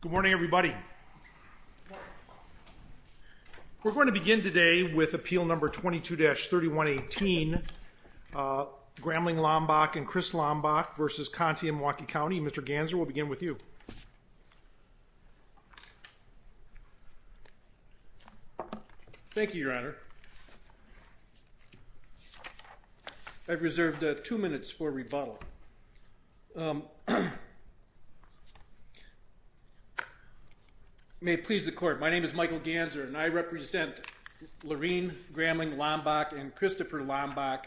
Good morning, everybody. We're going to begin today with Appeal Number 22-3118, Grambling Lambach and Chris Lambach versus Conte in Milwaukee County. Mr. Ganser, we'll begin with you. Thank you, Your Honor. I've reserved two minutes for rebuttal. You may please the court. My name is Michael Ganser, and I represent Lorene Grambling Lambach and Christopher Lambach,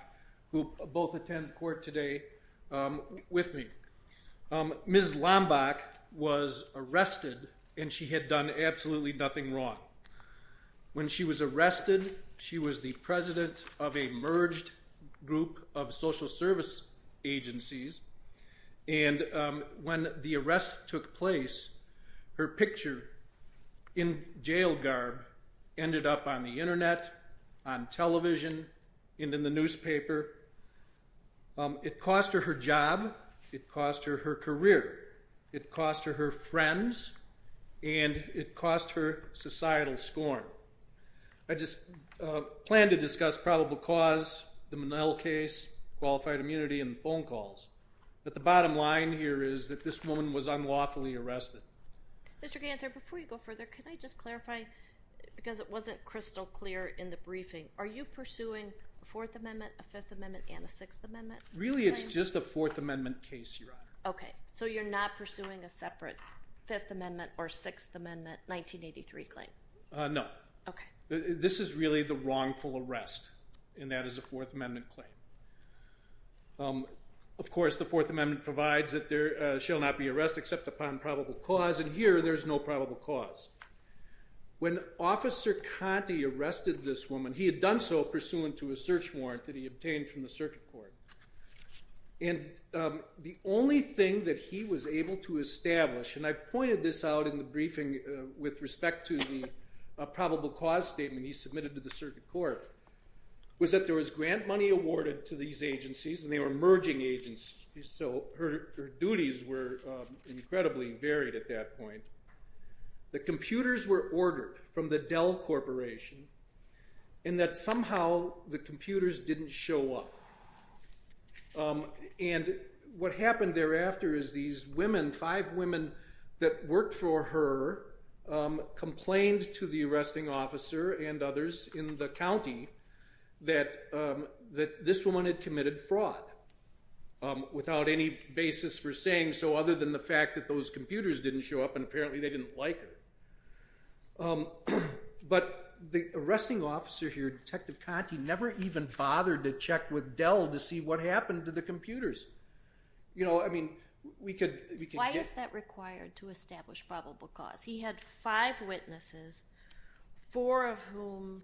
who both attend court today, with me. Ms. Lambach was arrested, and she had done absolutely nothing wrong. When she was arrested, she was the president of a merged group of social service agencies. And when the arrest took place, her picture in jail garb ended up on the internet, on television, and in the newspaper. It cost her her job, it cost her her career, it cost her her friends, and it cost her societal scorn. I just plan to discuss probable cause, the Monell case, qualified immunity, and phone calls. But the bottom line here is that this woman was unlawfully arrested. Mr. Ganser, before you go further, can I just clarify, because it wasn't crystal clear in the briefing, are you pursuing a Fourth Amendment, a Fifth Amendment, and a Sixth Amendment? Really, it's just a Fourth Amendment case, Your Honor. OK, so you're not pursuing a separate Fifth Amendment or Sixth Amendment 1983 claim? No. This is really the wrongful arrest, and that is a Fourth Amendment claim. Of course, the Fourth Amendment provides that there shall not be arrest except upon probable cause, and here there's no probable cause. When Officer Conte arrested this woman, he had done so pursuant to a search warrant that he obtained from the circuit court. And the only thing that he was able to establish, and I pointed this out in the briefing with respect to the probable cause statement he submitted to the circuit court, was that there was grant money awarded to these agencies, and they were merging agencies, so her duties were incredibly varied at that point. The computers were ordered from the Dell Corporation, and that somehow the computers didn't show up. And what happened thereafter is these women, five women, that worked for her complained to the arresting officer and others in the county that this woman had committed fraud without any basis for saying so other than the fact that those computers didn't show up, and apparently they didn't like her. But the arresting officer here, Detective Conte, never even bothered to check with Dell to see what happened to the computers. You know, I mean, we could get... Why is that required to establish probable cause? He had five witnesses, four of whom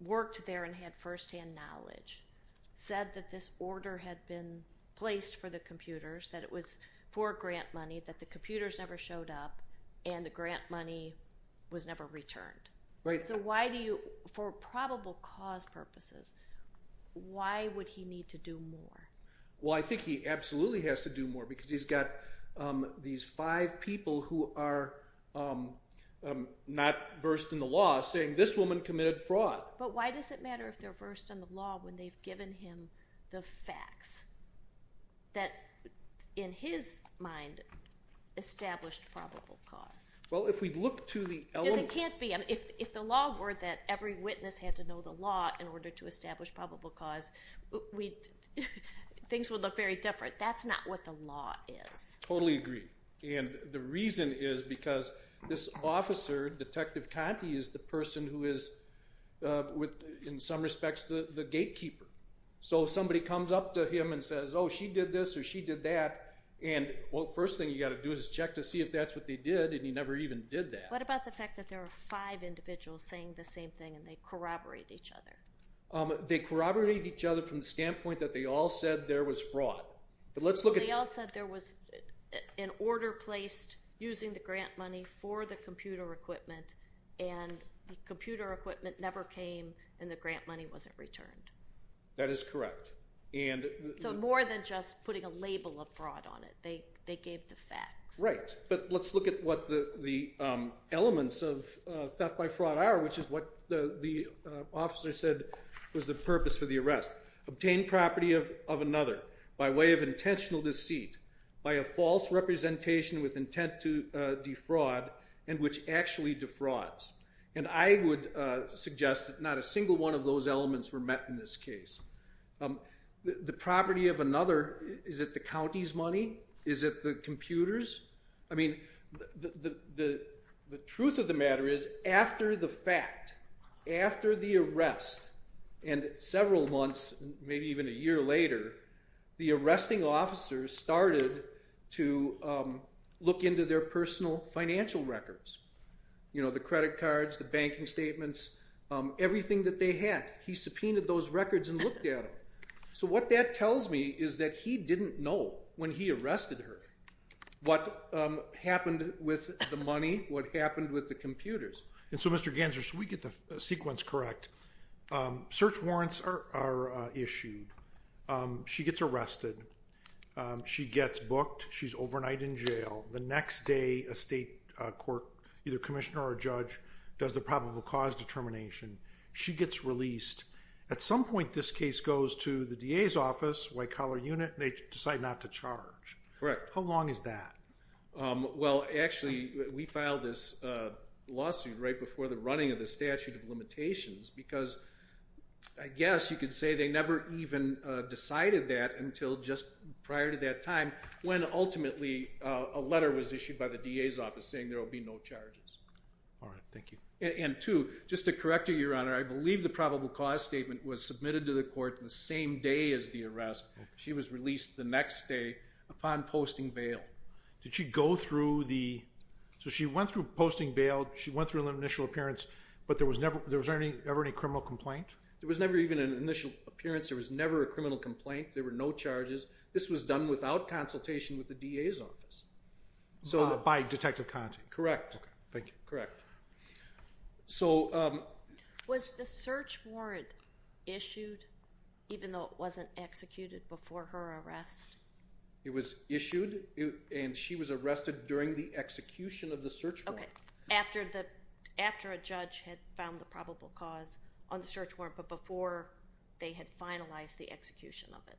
worked there and had firsthand knowledge, said that this order had been placed for the computers, that it was for grant money, that the computers never showed up, and the grant money was never returned. So why do you, for probable cause purposes, why would he need to do more? Well, I think he absolutely has to do more because he's got these five people who are not versed in the law saying, this woman committed fraud. But why does it matter if they're versed in the law when they've given him the facts that in his mind established probable cause? Well, if we look to the element... Because it can't be, I mean, if the law were that every witness had to know the law in order to establish probable cause, things would look very different. That's not what the law is. Totally agree. And the reason is because this officer, Detective Conti, is the person who is, in some respects, the gatekeeper. So if somebody comes up to him and says, oh, she did this or she did that, and well, first thing you got to do is check to see if that's what they did, and he never even did that. What about the fact that there are five individuals saying the same thing and they corroborate each other? They corroborate each other from the standpoint that they all said there was fraud. But let's look at... They all said there was an order placed using the grant money for the computer equipment and the computer equipment never came and the grant money wasn't returned. That is correct. So more than just putting a label of fraud on it. They gave the facts. Right. But let's look at what the elements of theft by fraud are, which is what the officer said was the purpose for the arrest. Obtain property of another by way of intentional deceit by a false representation with intent to defraud and which actually defrauds. And I would suggest that not a single one of those elements were met in this case. The property of another, is it the county's money? Is it the computer's? I mean, the truth of the matter is after the fact, after the arrest and several months, maybe even a year later, the arresting officer started to look into their personal financial records. You know, the credit cards, the banking statements, everything that they had. He subpoenaed those records and looked at them. So what that tells me is that he didn't know what happened with the computers. And so Mr. Ganser, should we get the sequence correct? Search warrants are issued. She gets arrested. She gets booked. She's overnight in jail. The next day, a state court, either commissioner or a judge, does the probable cause determination. She gets released. At some point, this case goes to the DA's office, White Collar Unit, and they decide not to charge. Correct. How long is that? Well, actually, we filed this lawsuit right before the running of the statute of limitations because I guess you could say they never even decided that until just prior to that time when ultimately a letter was issued by the DA's office saying there will be no charges. All right, thank you. And two, just to correct you, Your Honor, I believe the probable cause statement was submitted to the court the same day as the arrest. She was released the next day upon posting bail. Did she go through the... So she went through posting bail. She went through an initial appearance, but there was never any criminal complaint? There was never even an initial appearance. There was never a criminal complaint. There were no charges. This was done without consultation with the DA's office. So by Detective Conti. Correct. Thank you. Correct. So... Was the search warrant issued even though it wasn't executed before her arrest? It was issued and she was arrested during the execution of the search warrant. Okay, after a judge had found the probable cause on the search warrant, but before they had finalized the execution of it.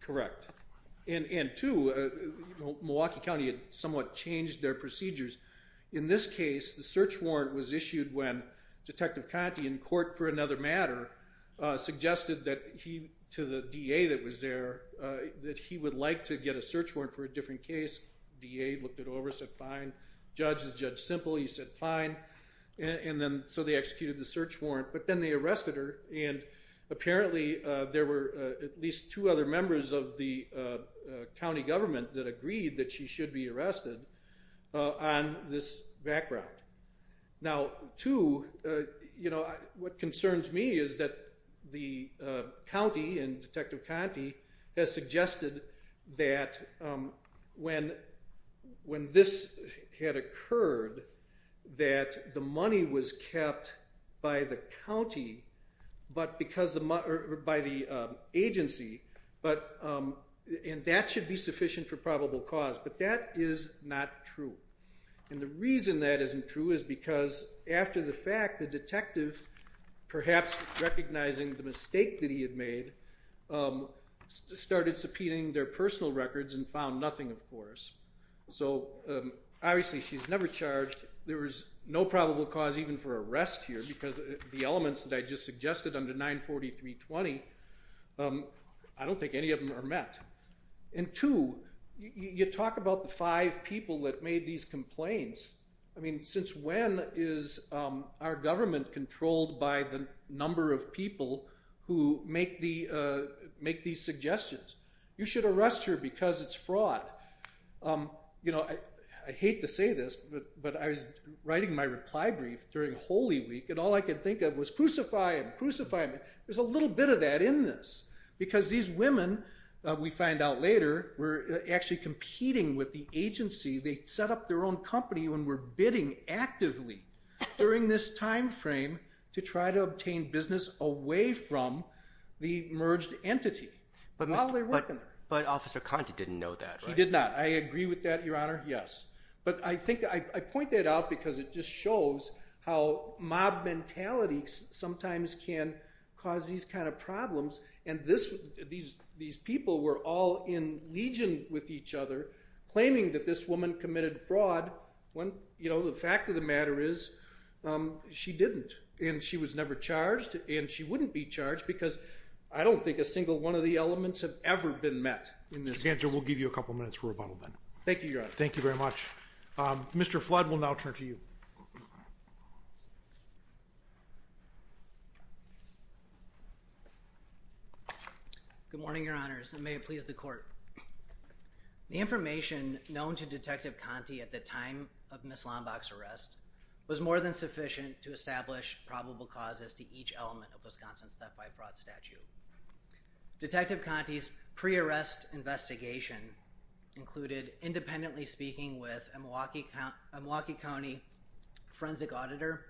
Correct. And two, Milwaukee County had somewhat changed their procedures. In this case, the search warrant was issued when Detective Conti, in court for another matter, suggested that he, to the DA that was there, that he would like to get a search warrant for a different case. DA looked it over, said, fine. Judge is Judge Simple. He said, fine. And then, so they executed the search warrant, but then they arrested her. And apparently there were at least two other members of the county government that agreed that she should be arrested on this background. Now, two, you know, what concerns me is that the county and Detective Conti has suggested that when this had occurred, that the money was kept by the county, but because the, or by the agency, but, and that should be sufficient for probable cause, but that is not true. And the reason that isn't true is because after the fact, the detective, perhaps recognizing the mistake that he had made, started subpoenaing their personal records and found nothing, of course. So obviously she's never charged. There was no probable cause even for arrest here because the elements that I just suggested under 94320, I don't think any of them are met. And two, you talk about the five people that made these complaints. I mean, since when is our government controlled by the number of people who make these suggestions? You should arrest her because it's fraud. You know, I hate to say this, but I was writing my reply brief during Holy Week and all I could think of was crucify him, crucify him. There's a little bit of that in this because these women, we find out later, were actually competing with the agency. They set up their own company when we're bidding actively during this timeframe to try to obtain business away from the merged entity while they're working there. But Officer Conti didn't know that, right? He did not. I agree with that, Your Honor, yes. But I think I point that out because it just shows how mob mentality sometimes can cause these kind of problems. And these people were all in legion with each other claiming that this woman committed fraud when, you know, the fact of the matter is she didn't and she was never charged and she wouldn't be charged because I don't think a single one of the elements have ever been met in this case. Your Honor, we'll give you a couple minutes for rebuttal then. Thank you, Your Honor. Thank you very much. Mr. Flood, we'll now turn to you. Good morning, Your Honors, and may it please the court. The information known to Detective Conti at the time of Ms. Lombach's arrest was more than sufficient to establish probable causes to each element of Wisconsin's theft by fraud statute. Detective Conti's pre-arrest investigation included independently speaking with a Milwaukee County forensic auditor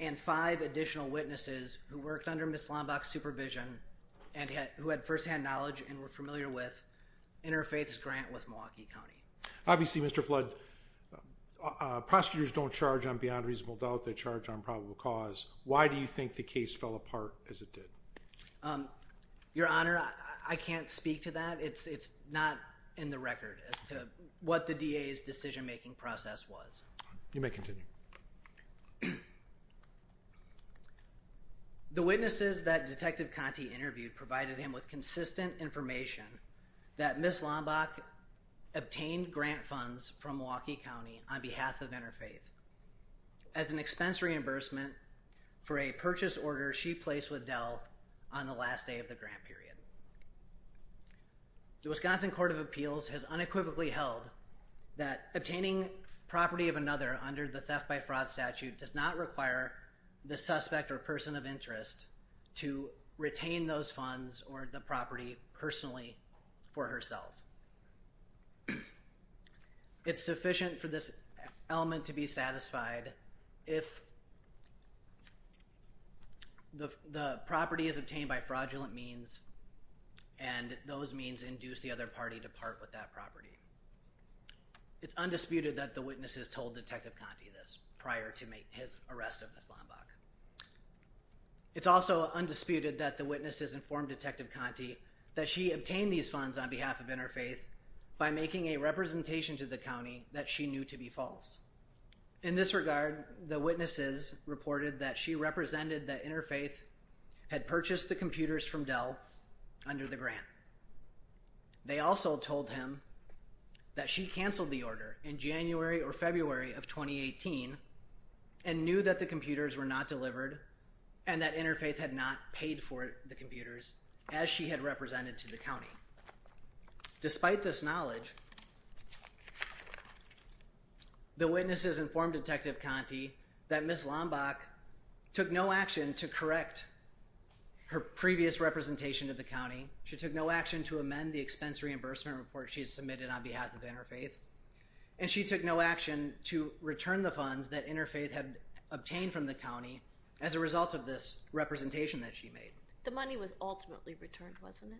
and five additional witnesses who worked under Ms. Lombach's supervision and who had firsthand knowledge and were familiar with Interfaith's grant with Milwaukee County. Obviously, Mr. Flood, prosecutors don't charge on beyond reasonable doubt. They charge on probable cause. Why do you think the case fell apart as it did? Your Honor, I can't speak to that. It's not in the record as to what the DA's decision-making process was. You may continue. The witnesses that Detective Conti interviewed provided him with consistent information that Ms. Lombach obtained grant funds from Milwaukee County on behalf of Interfaith as an expense reimbursement for a purchase order she placed with Dell on the last day of the grant period. The Wisconsin Court of Appeals has unequivocally held that obtaining property of another does not require the suspect or person of interest to retain those funds or the property personally for herself. It's sufficient for this element to be satisfied if the property is obtained by fraudulent means and those means induce the other party to part with that property. It's undisputed that the witnesses told Detective Conti this prior to his arrest of Ms. Lombach. It's also undisputed that the witnesses informed Detective Conti that she obtained these funds on behalf of Interfaith by making a representation to the county that she knew to be false. In this regard, the witnesses reported that she represented that Interfaith had purchased the computers from Dell under the grant. They also told him that she canceled the order in January or February of 2018 and knew that the computers were not to be used or were not delivered and that Interfaith had not paid for the computers as she had represented to the county. Despite this knowledge, the witnesses informed Detective Conti that Ms. Lombach took no action to correct her previous representation to the county. She took no action to amend the expense reimbursement report And she took no action to return the funds that Interfaith had obtained from the county as a result of this representation that she made. The money was ultimately returned, wasn't it?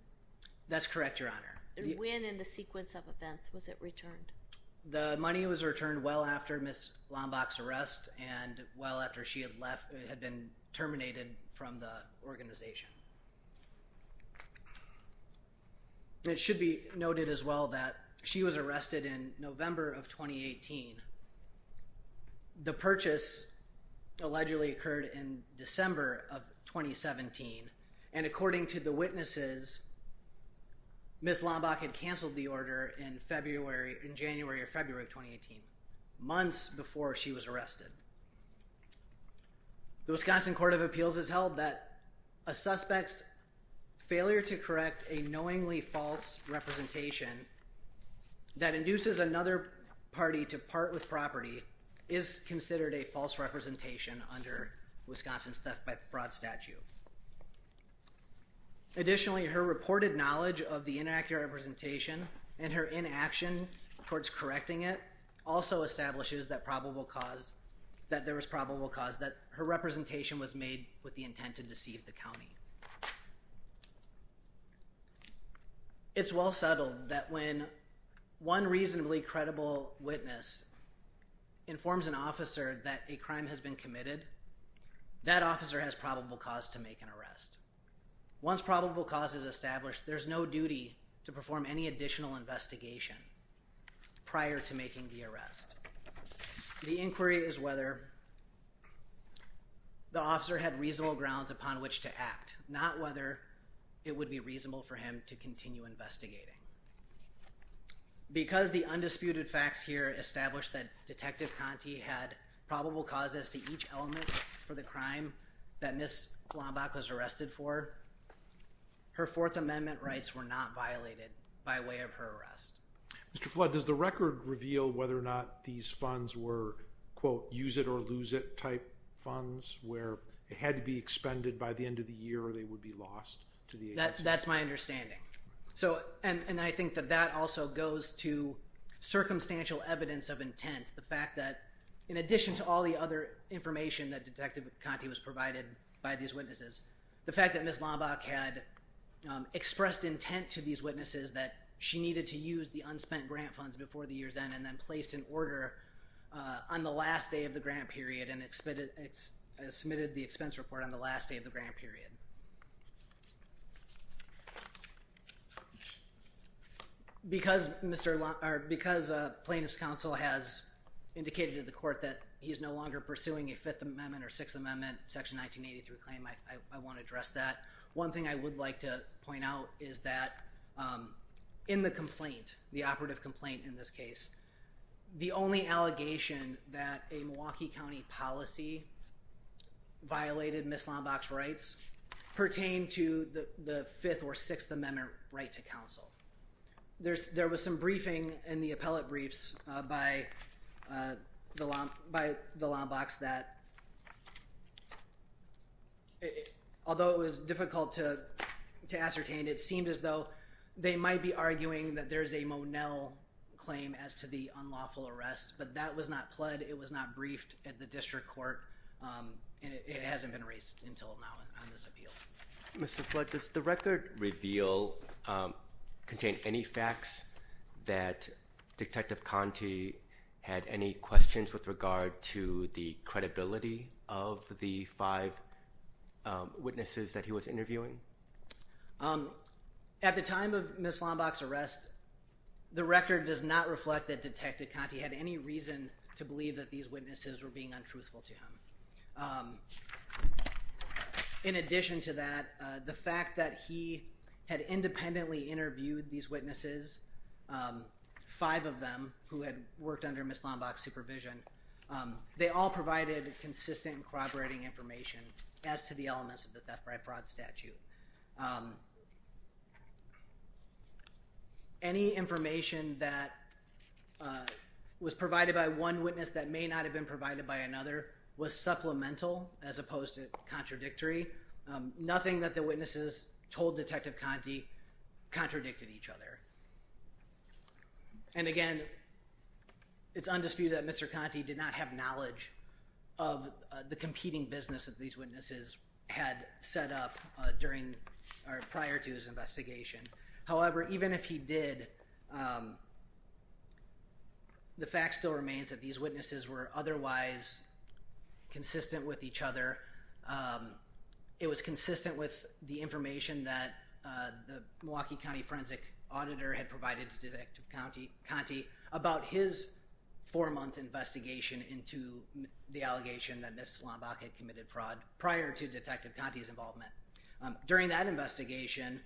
That's correct, Your Honor. When in the sequence of events was it returned? The money was returned well after Ms. Lombach's arrest and well after she had been terminated from the organization. It should be noted as well that she was arrested in November of 2018. The purchase allegedly occurred in December of 2017 and according to the witnesses, Ms. Lombach had canceled the order in January or February of 2018, months before she was arrested. The Wisconsin Court of Appeals has held that a suspect's failure to correct a knowingly false representation that induces another party to part with property is considered a false representation under Wisconsin's theft by fraud statute. Additionally, her reported knowledge of the inaccurate representation and her inaction towards correcting it also establishes that there was probable cause that her representation was made with the intent to deceive the county. It's well settled that when one reasonably credible witness informs an officer that a crime has been committed, that officer has probable cause to make an arrest. Once probable cause is established, there's no duty to perform any additional investigation prior to making the arrest. upon which to act. Not whether it would be reasonable for him to continue investigating. Because the undisputed facts here establish that Detective Conti had probable causes to each element for the crime that Ms. Lombach was arrested for, her Fourth Amendment rights were not violated by way of her arrest. Mr. Flood, does the record reveal whether or not these funds were, quote, use it or lose it type funds where it had to be expended by the end of the year or they would be lost to the agency? That's my understanding. So, and I think that that also goes to circumstantial evidence of intent, the fact that in addition to all the other information that Detective Conti was provided by these witnesses, the fact that Ms. Lombach had expressed intent to these witnesses that she needed to use the unspent grant funds before the year's end and then placed an order on the last day of the grant period and submitted the expense report on the last day of the grant period. Because Plaintiff's Counsel has indicated to the court that he's no longer pursuing a Fifth Amendment or Sixth Amendment, Section 1983 claim, I want to address that. One thing I would like to point out is that in the complaint, the operative complaint in this case, the only allegation that a Milwaukee County policy violated Ms. Lombach's rights pertain to the Fifth or Sixth Amendment right to counsel. There was some briefing in the appellate briefs by the Lombachs that, although it was difficult to ascertain, it seemed as though they might be arguing that there's a Monell claim as to the unlawful arrest, but that was not pled, it was not briefed at the district court, and it hasn't been raised until now on this appeal. Mr. Flood, does the record reveal, contain any facts that Detective Conte had any questions with regard to the credibility of the five witnesses that he was interviewing? At the time of Ms. Lombach's arrest, the record does not reflect that Detective Conte had any reason to believe that these witnesses were being untruthful to him. In addition to that, the fact that he had independently interviewed these witnesses, five of them, who had worked under Ms. Lombach's supervision, they all provided consistent corroborating information as to the elements of the theft by fraud statute. Any information that was provided by one witness that may not have been provided by another was supplemental as opposed to contradictory. Nothing that the witnesses told Detective Conte contradicted each other. And again, it's undisputed that Mr. Conte did not have knowledge of the competing business that these witnesses had set up during the investigation. Or prior to his investigation. However, even if he did, the fact still remains that these witnesses were otherwise consistent with each other. It was consistent with the information that the Milwaukee County Forensic Auditor had provided to Detective Conte about his four-month investigation into the allegation that Ms. Lombach had committed fraud prior to Detective Conte's involvement. During that investigation,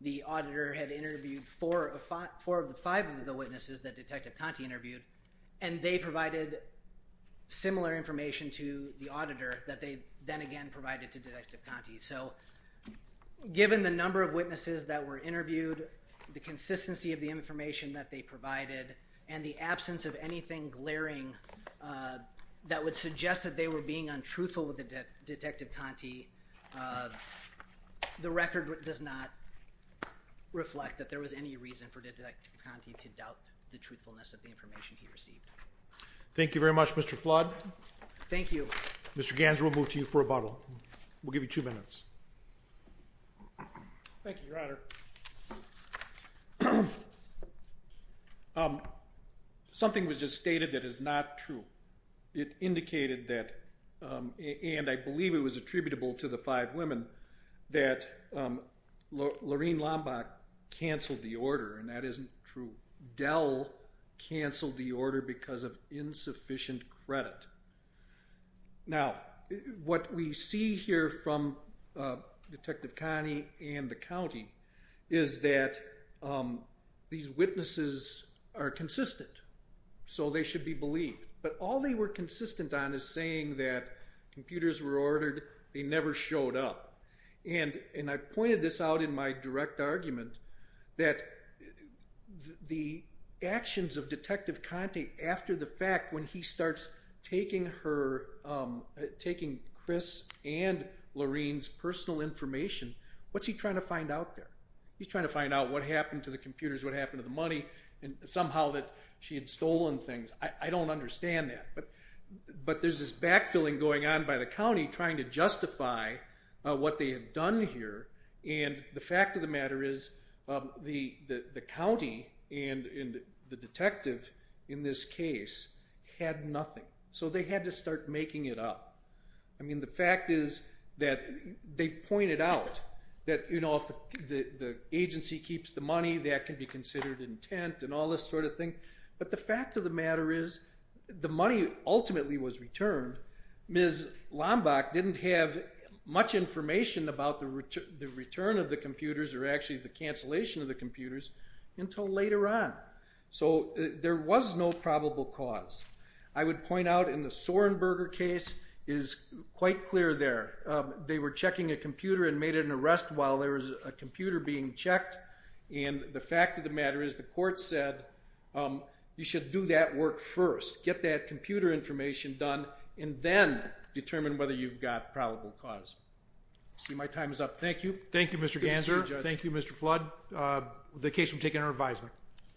the auditor had interviewed four of the five of the witnesses that Detective Conte interviewed, and they provided similar information to the auditor that they then again provided to Detective Conte. So given the number of witnesses that were interviewed, the consistency of the information that they provided, and the absence of anything glaring that would suggest that they were being untruthful with Detective Conte, the record does not reflect that there was any reason for Detective Conte to doubt the truthfulness of the information he received. Thank you very much, Mr. Flood. Thank you. Mr. Ganser, we'll move to you for rebuttal. We'll give you two minutes. Thank you, Your Honor. Something was just stated that is not true. It indicated that, and I believe it was attributable to the five women, that Lorene Lombach canceled the order, and that isn't true. Dell canceled the order because of insufficient credit. Now, what we see here from Detective Conte and the county is that these witnesses are consistent, so they should be believed. But all they were consistent on is saying that computers were ordered, they never showed up. And I pointed this out in my direct argument that the actions of Detective Conte after the fact, when he starts taking her, taking Chris and Lorene's personal information, what's he trying to find out there? He's trying to find out what happened to the computers, what happened to the money, and somehow that she had stolen things. I don't understand that, but there's this backfilling going on by the county trying to justify what they had done here. And the fact of the matter is the county and the detective in this case had nothing. So they had to start making it up. I mean, the fact is that they pointed out that if the agency keeps the money, that can be considered intent and all this sort of thing. But the fact of the matter is the money ultimately was returned. Ms. Lombach didn't have much information about the return of the computers or actually the cancellation of the computers until later on. So there was no probable cause. I would point out in the Soerenberger case is quite clear there. They were checking a computer and made an arrest while there was a computer being checked. And the fact of the matter is the court said, you should do that work first, get that computer information done, and then determine whether you've got probable cause. See, my time is up. Thank you. Thank you, Mr. Ganser. Thank you, Mr. Flood. The case will be taken under advisement.